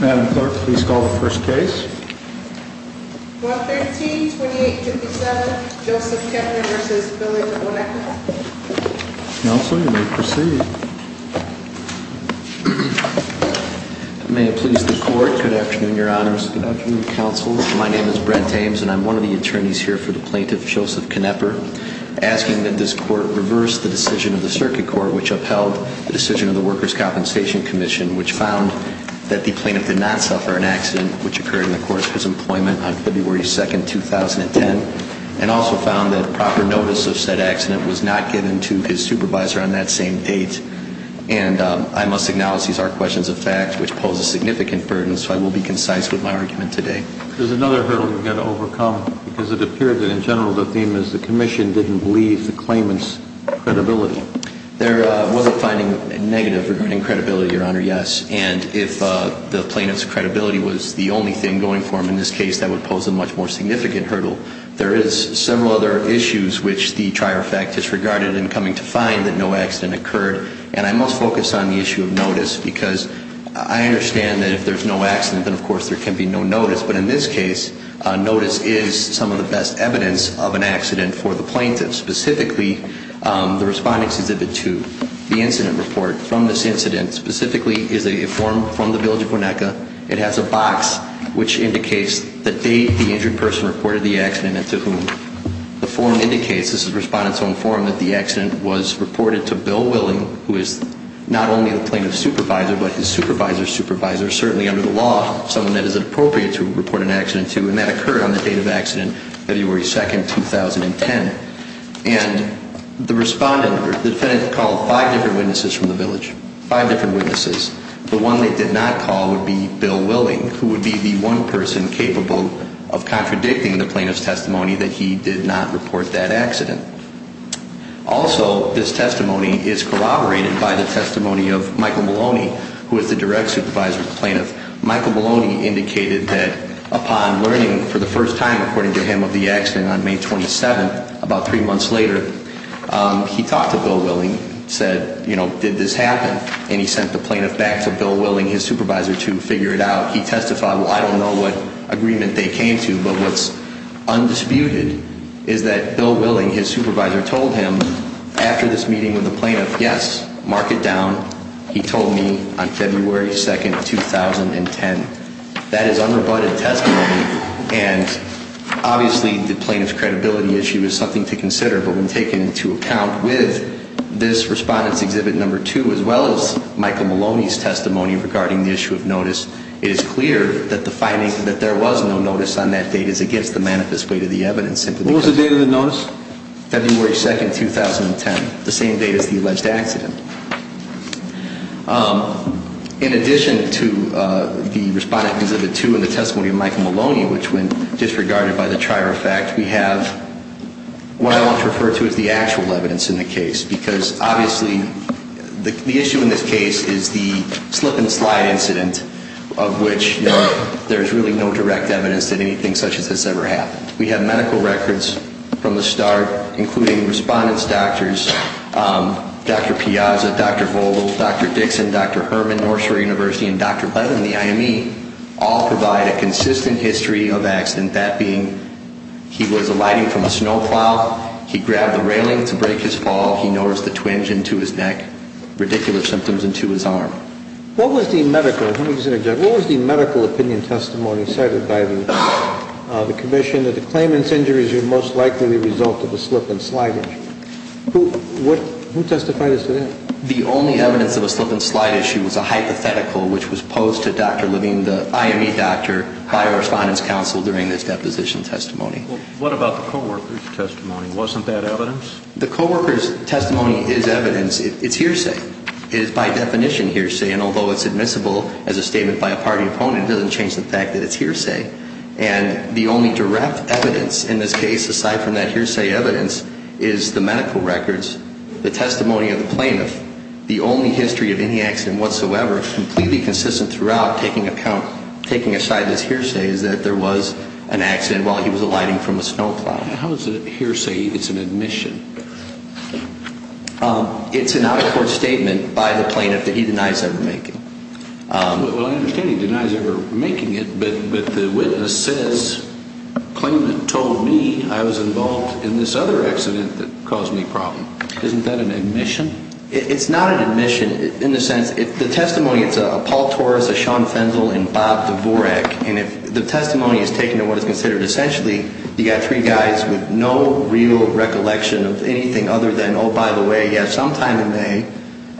Madam Clerk, please call the first case. 113-2857, Joseph Knepper v. Billy DeVonecker. Counsel, you may proceed. May it please the Court, good afternoon, Your Honors. Good afternoon, Counsel. My name is Brent Ames, and I'm one of the attorneys here for the plaintiff, Joseph Knepper, asking that this Court reverse the decision of the Circuit Court, which upheld the decision of the Workers' Compensation Comm'n, which found that the plaintiff did not suffer an accident, which occurred in the course of his employment on February 2, 2010, and also found that proper notice of said accident was not given to his supervisor on that same date. And I must acknowledge these are questions of fact, which pose a significant burden, so I will be concise with my argument today. There's another hurdle you've got to overcome, because it appeared that, in general, the theme is the Commission didn't believe the claimant's credibility. There was a finding negative regarding credibility, Your Honor, yes. And if the plaintiff's credibility was the only thing going for him in this case, that would pose a much more significant hurdle. There is several other issues which the trier of fact disregarded in coming to find that no accident occurred. And I must focus on the issue of notice, because I understand that if there's no accident, then, of course, there can be no notice. But in this case, notice is some of the best evidence of an accident for the plaintiff. And specifically, the respondent's exhibit 2, the incident report from this incident, specifically is a form from the Village of Winneka. It has a box which indicates the date the injured person reported the accident and to whom. The form indicates, this is the respondent's own form, that the accident was reported to Bill Willing, who is not only the plaintiff's supervisor, but his supervisor's supervisor, certainly under the law, someone that is appropriate to report an accident to. And that occurred on the date of the accident, February 2, 2010. And the defendant called five different witnesses from the village, five different witnesses. The one they did not call would be Bill Willing, who would be the one person capable of contradicting the plaintiff's testimony that he did not report that accident. Also, this testimony is corroborated by the testimony of Michael Maloney, who is the direct supervisor of the plaintiff. Michael Maloney indicated that upon learning for the first time, according to him, of the accident on May 27, about three months later, he talked to Bill Willing, said, you know, did this happen? And he sent the plaintiff back to Bill Willing, his supervisor, to figure it out. He testified, well, I don't know what agreement they came to, but what's undisputed is that Bill Willing, his supervisor, told him after this meeting with the plaintiff, yes, mark it down, he told me on February 2, 2010. That is unrebutted testimony, and obviously the plaintiff's credibility issue is something to consider, but when taken into account with this Respondent's Exhibit No. 2, as well as Michael Maloney's testimony regarding the issue of notice, it is clear that the finding that there was no notice on that date is against the manifest weight of the evidence. What was the date of the notice? February 2, 2010, the same date as the alleged accident. In addition to the Respondent's Exhibit No. 2 and the testimony of Michael Maloney, which went disregarded by the trier of fact, we have what I want to refer to as the actual evidence in the case, because obviously the issue in this case is the slip and slide incident of which, you know, there's really no direct evidence that anything such as this ever happened. We have medical records from the start, including Respondent's doctors, Dr. Piazza, Dr. Bolden, Dr. Dixon, Dr. Herman, North Shore University, and Dr. Bledin, the IME, all provide a consistent history of accident, that being he was alighting from a snow plow, he grabbed the railing to break his fall, he noticed the twinge into his neck, ridiculous symptoms into his arm. What was the medical, let me just interject, what was the medical opinion testimony cited by the commission that the claimant's injuries are most likely the result of a slip and slide issue? Who testified as to that? The only evidence of a slip and slide issue was a hypothetical which was posed to Dr. Living, the IME doctor by our Respondent's counsel during this deposition testimony. What about the co-worker's testimony? Wasn't that evidence? The co-worker's testimony is evidence. It's hearsay. It is by definition hearsay. And although it's admissible as a statement by a party opponent, it doesn't change the fact that it's hearsay. And the only direct evidence in this case, aside from that hearsay evidence, is the medical records, the testimony of the plaintiff. The only history of any accident whatsoever, completely consistent throughout, taking aside this hearsay, is that there was an accident while he was alighting from a snow plow. How is it hearsay? It's an admission. It's an out-of-court statement by the plaintiff that he denies ever making. Well, I understand he denies ever making it, but the witness says, claimant told me I was involved in this other accident that caused me problem. Isn't that an admission? It's not an admission in the sense, the testimony, it's a Paul Torres, a Sean Fenzel, and Bob Dvorak. And if the testimony is taken to what is considered essentially, you've got three guys with no real recollection of anything other than, oh, by the way, yeah, sometime in May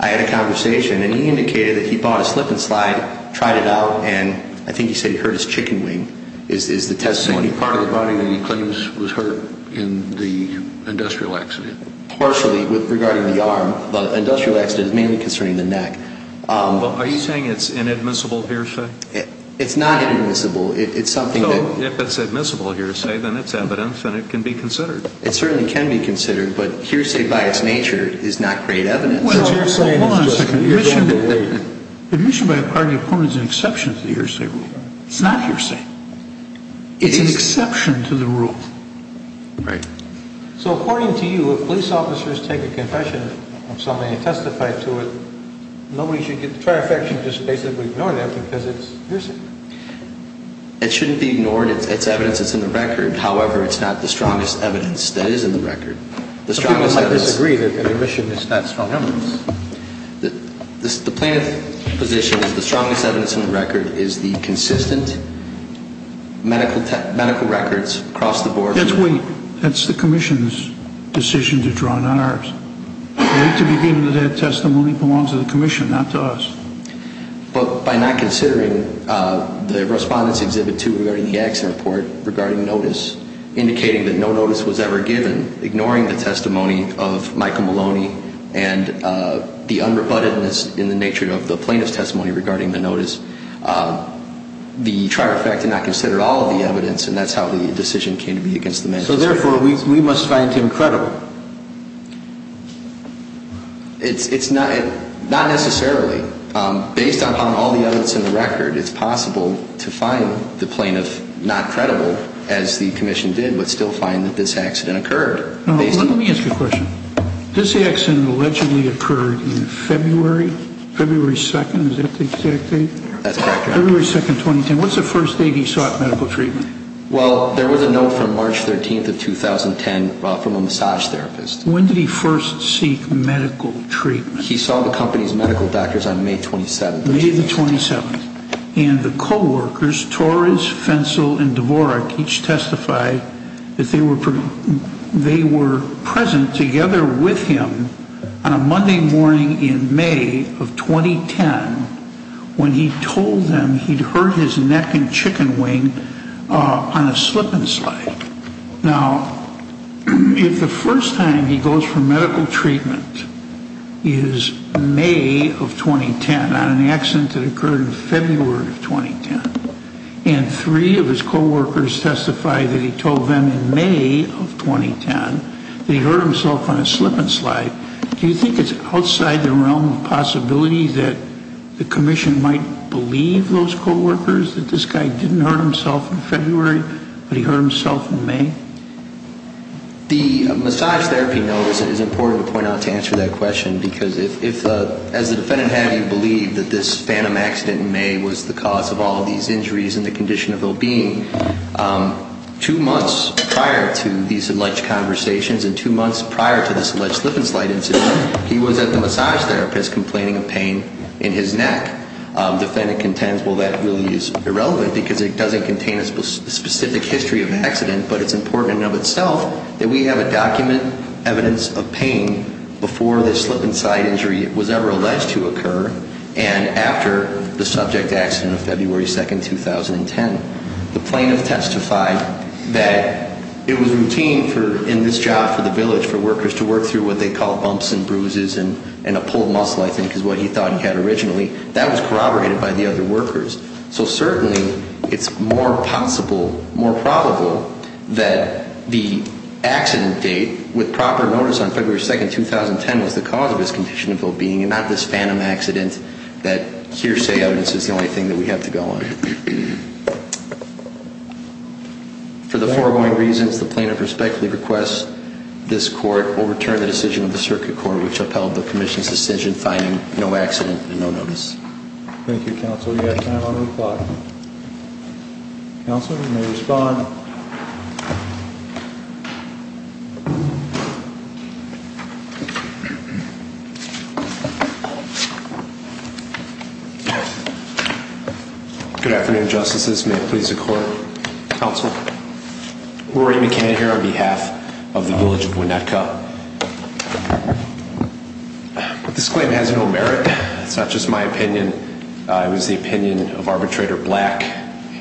I had a conversation, and he indicated that he bought a slip and slide, tried it out, and I think he said he hurt his chicken wing, is the testimony. Part of the body that he claims was hurt in the industrial accident. Partially, regarding the arm, but industrial accident is mainly concerning the neck. Are you saying it's inadmissible hearsay? It's not inadmissible. No, if it's admissible hearsay, then it's evidence and it can be considered. It certainly can be considered, but hearsay by its nature is not great evidence. Well, it's hearsay. Hold on a second. Admission by a party of court is an exception to the hearsay rule. It's not hearsay. It is. It's an exception to the rule. Right. So according to you, if police officers take a confession of something and testify to it, nobody should get the trifecta and just basically ignore that because it's hearsay. It shouldn't be ignored. It's evidence that's in the record. However, it's not the strongest evidence that is in the record. Some people might disagree that admission is not strong evidence. The plaintiff's position is the strongest evidence in the record is the consistent medical records across the board. That's the commission's decision to draw not ours. We need to be given that that testimony belongs to the commission, not to us. But by not considering the Respondents' Exhibit 2 regarding the accident report regarding notice, indicating that no notice was ever given, ignoring the testimony of Michael Maloney and the unrebuttedness in the nature of the plaintiff's testimony regarding the notice, the trifecta not considered all of the evidence, and that's how the decision came to be against the magistrate. So therefore, we must find him credible. It's not necessarily. Based upon all the evidence in the record, it's possible to find the plaintiff not credible, as the commission did, but still find that this accident occurred. Let me ask you a question. This accident allegedly occurred in February, February 2nd. Is that the exact date? That's correct, Your Honor. February 2nd, 2010. What's the first date he sought medical treatment? Well, there was a note from March 13th of 2010 from a massage therapist. When did he first seek medical treatment? He saw the company's medical doctors on May 27th. May 27th. And the co-workers, Torres, Fensel, and Dvorak, each testified that they were present together with him on a Monday morning in May of 2010 when he told them he'd hurt his neck and chicken wing on a slip and slide. Now, if the first time he goes for medical treatment is May of 2010 on an accident that occurred in February of 2010, and three of his co-workers testified that he told them in May of 2010 that he hurt himself on a slip and slide, do you think it's outside the realm of possibility that the commission might believe those co-workers that this guy didn't hurt himself in February, but he hurt himself in May? The massage therapy note is important to point out to answer that question, because if, as the defendant had him believe that this phantom accident in May was the cause of all these injuries and the condition of well-being, two months prior to these alleged conversations and two months prior to this alleged slip and slide incident, he was at the massage therapist complaining of pain in his neck. The defendant contends, well, that really is irrelevant because it doesn't contain a specific history of an accident, but it's important in and of itself that we have a document, evidence of pain before this slip and slide injury was ever alleged to occur and after the subject accident of February 2, 2010. The plaintiff testified that it was routine in this job for the village for workers to work through what they call bumps and bruises and a pulled muscle, I think, is what he thought he had originally. That was corroborated by the other workers. So certainly it's more possible, more probable that the accident date with proper notice on February 2, 2010 was the cause of his condition of well-being and not this phantom accident that hearsay evidence is the only thing that we have to go on. For the foregoing reasons, the plaintiff respectfully requests this court overturn the decision of the Circuit Court which upheld the Commission's decision finding no accident and no notice. Thank you, Counsel. We have time on the clock. Counsel, you may respond. Good afternoon, Justices. May it please the Court. Counsel, Rory McCann here on behalf of the village of Winnetka. This claim has no merit. It's not just my opinion. It was the opinion of Arbitrator Black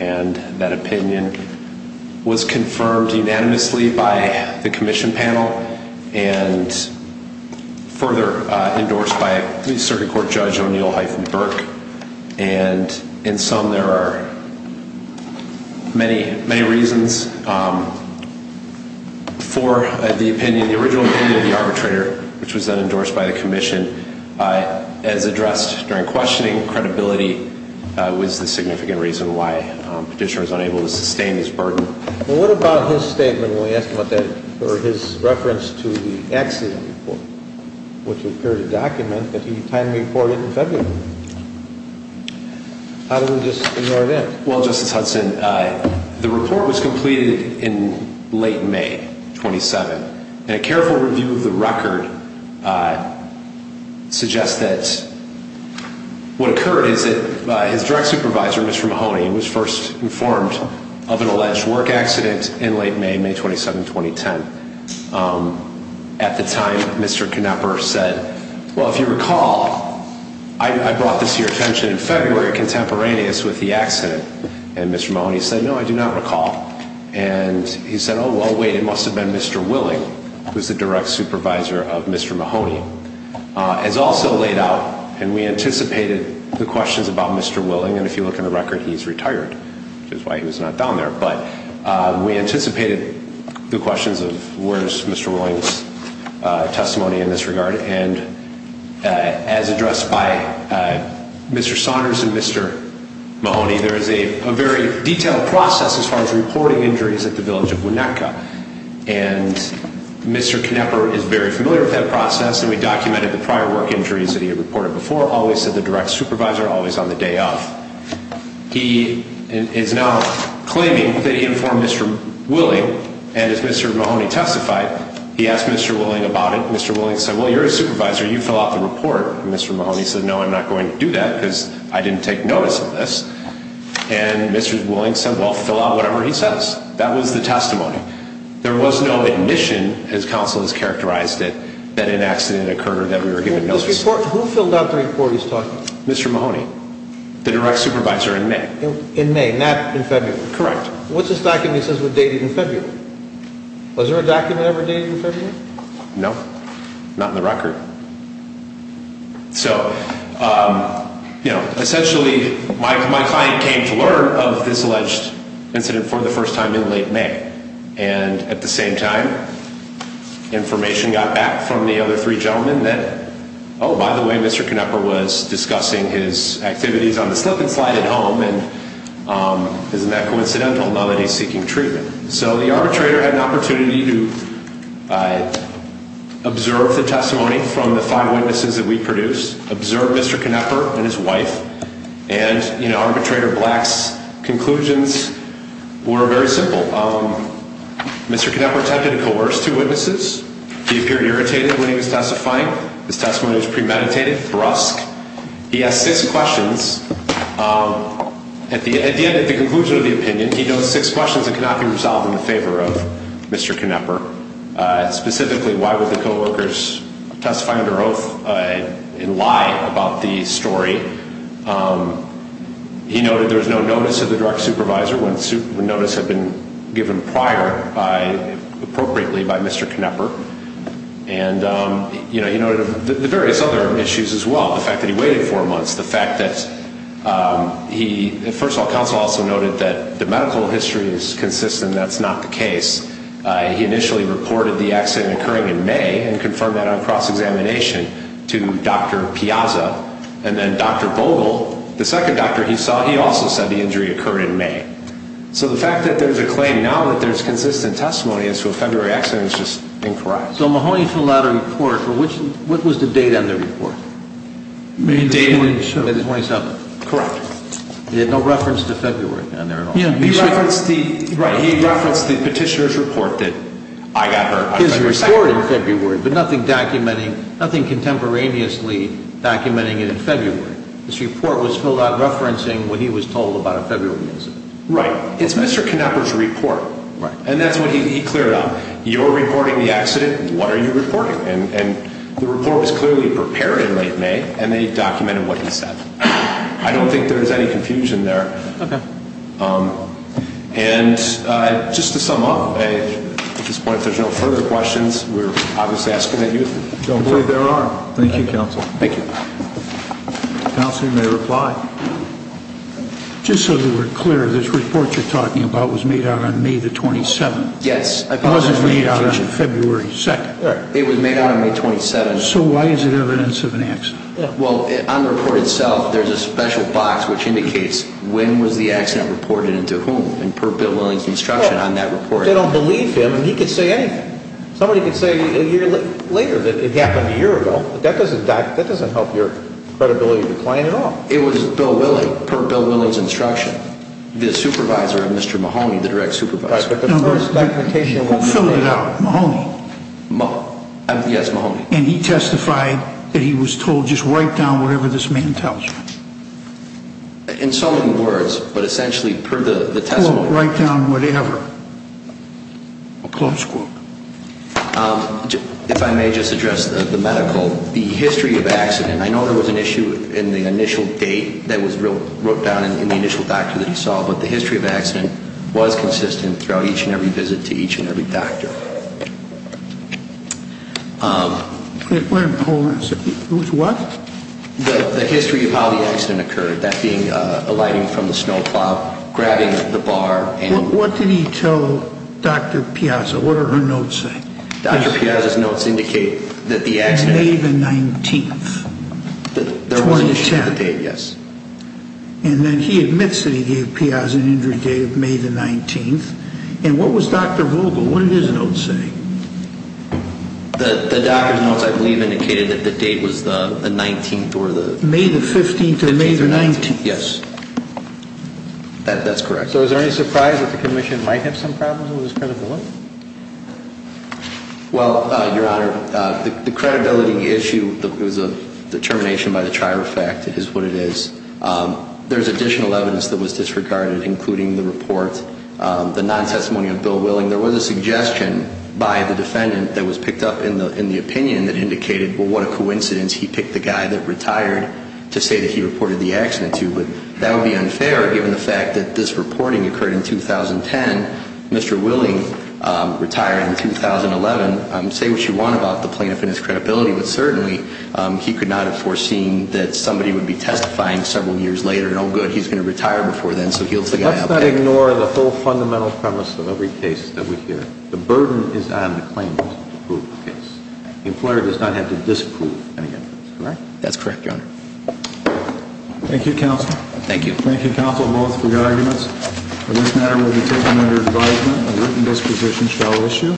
and that opinion was confirmed unanimously by the Commission panel and further endorsed by Circuit Court Judge O'Neill-Burke. And in sum, there are many, many reasons for the opinion, the original opinion of the arbitrator which was then endorsed by the Commission as addressed during questioning. Credibility was the significant reason why Petitioner was unable to sustain his burden. What about his statement when we asked about that, or his reference to the accident report which appeared to document that he timely reported in February? How did we just ignore that? Well, Justice Hudson, the report was completed in late May, 27. And a careful review of the record suggests that what occurred is that his direct supervisor, Mr. Mahoney was first informed of an alleged work accident in late May, May 27, 2010. At the time, Mr. Knepper said, well, if you recall, I brought this to your attention in February contemporaneous with the accident, and Mr. Mahoney said, no, I do not recall. And he said, oh, well, wait, it must have been Mr. Willing, who's the direct supervisor of Mr. Mahoney. It's also laid out, and we anticipated the questions about Mr. Willing, and if you look in the record, he's retired. Which is why he was not down there. But we anticipated the questions of where's Mr. Willing's testimony in this regard. And as addressed by Mr. Saunders and Mr. Mahoney, there is a very detailed process as far as reporting injuries at the village of Winnetka. And Mr. Knepper is very familiar with that process, and we documented the prior work injuries that he had reported before, always to the direct supervisor, always on the day of. He is now claiming that he informed Mr. Willing, and as Mr. Mahoney testified, he asked Mr. Willing about it. Mr. Willing said, well, you're a supervisor, you fill out the report. And Mr. Mahoney said, no, I'm not going to do that, because I didn't take notice of this. And Mr. Willing said, well, fill out whatever he says. That was the testimony. There was no admission, as counsel has characterized it, that an accident occurred, that we were given no support. Who filled out the report he's talking about? Mr. Mahoney, the direct supervisor in May. In May, not in February? Correct. What's this document that says we're dated in February? Was there a document ever dated in February? No, not in the record. So, you know, essentially, my client came to learn of this alleged incident for the first time in late May. And at the same time, information got back from the other three gentlemen that, oh, by the way, Mr. Knepper was discussing his activities on the slip and slide at home, and isn't that coincidental now that he's seeking treatment? So the arbitrator had an opportunity to observe the testimony from the five witnesses that we produced, observe Mr. Knepper and his wife, and, you know, arbitrator Black's conclusions were very simple. Mr. Knepper attempted to coerce two witnesses. He appeared irritated when he was testifying. His testimony was premeditated, brusque. He asked six questions. At the end, at the conclusion of the opinion, he notes six questions that cannot be resolved in favor of Mr. Knepper. Specifically, why would the co-workers testify under oath and lie about the story? He noted there was no notice of the direct supervisor when notice had been given prior appropriately by Mr. Knepper. And, you know, he noted the various other issues as well, the fact that he waited four months, the fact that he, first of all, counsel also noted that the medical history is consistent and that's not the case. He initially reported the accident occurring in May and confirmed that on cross-examination to Dr. Piazza. And then Dr. Bogle, the second doctor he saw, he also said the injury occurred in May. So the fact that there's a claim now that there's consistent testimony as to a February accident is just incorrect. So Mahoney filled out a report. What was the date on the report? May the 27th. May the 27th. Correct. He had no reference to February on there at all. He referenced the petitioner's report that I got hurt on February 2nd. His report in February, but nothing documenting, nothing contemporaneously documenting it in February. His report was filled out referencing what he was told about a February incident. Right. It's Mr. Knepper's report. Right. And that's what he cleared up. You're reporting the accident. What are you reporting? And the report was clearly prepared in late May, and they documented what he said. I don't think there's any confusion there. Okay. And just to sum up, at this point, if there's no further questions, we're obviously asking that you complete their arm. Thank you, counsel. Thank you. Counsel, you may reply. Just so we're clear, this report you're talking about was made out on May the 27th. Yes. It wasn't made out on February 2nd. It was made out on May 27th. So why is it evidence of an accident? Well, on the report itself, there's a special box which indicates when was the accident reported and to whom, and per Bill Willing's instruction on that report. They don't believe him, and he can say anything. Somebody can say a year later that it happened a year ago. That doesn't help your credibility decline at all. It was Bill Willing, per Bill Willing's instruction. The supervisor, Mr. Mahoney, the direct supervisor. Who filled it out? Mahoney. Yes, Mahoney. And he testified that he was told just write down whatever this man tells you. In so many words, but essentially per the testimony. Quote, write down whatever. A close quote. If I may just address the medical, the history of the accident, I know there was an issue in the initial date that was wrote down in the initial doctor that he saw, but the history of the accident was consistent throughout each and every visit to each and every doctor. Wait a minute. Hold on a second. It was what? The history of how the accident occurred, that being alighting from the snowplow, grabbing the bar. What did he tell Dr. Piazza? What did her notes say? Dr. Piazza's notes indicate that the accident. May the 19th, 2010. Yes. And then he admits that he gave Piazza an injury date of May the 19th. And what was Dr. Vogel, what did his notes say? The doctor's notes, I believe, indicated that the date was the 19th or the. May the 15th or May the 19th. Yes. That's correct. So is there any surprise that the commission might have some problems with his credibility? Well, Your Honor, the credibility issue is a determination by the trier of fact is what it is. There is additional evidence that was disregarded, including the report, the non-testimony of Bill Willing. There was a suggestion by the defendant that was picked up in the opinion that indicated, well, what a coincidence he picked the guy that retired to say that he reported the accident to. But that would be unfair given the fact that this reporting occurred in 2010. Mr. Willing retired in 2011. Say what you want about the plaintiff and his credibility, but certainly he could not have foreseen that somebody would be testifying several years later, and, oh, good, he's going to retire before then, so he'll. Let's not ignore the whole fundamental premise of every case that we hear. The burden is on the claimant to prove the case. The employer does not have to disprove any evidence, correct? That's correct, Your Honor. Thank you, counsel. Thank you. Thank you, counsel, both for your arguments. This matter will be taken under advisement and written disposition shall issue.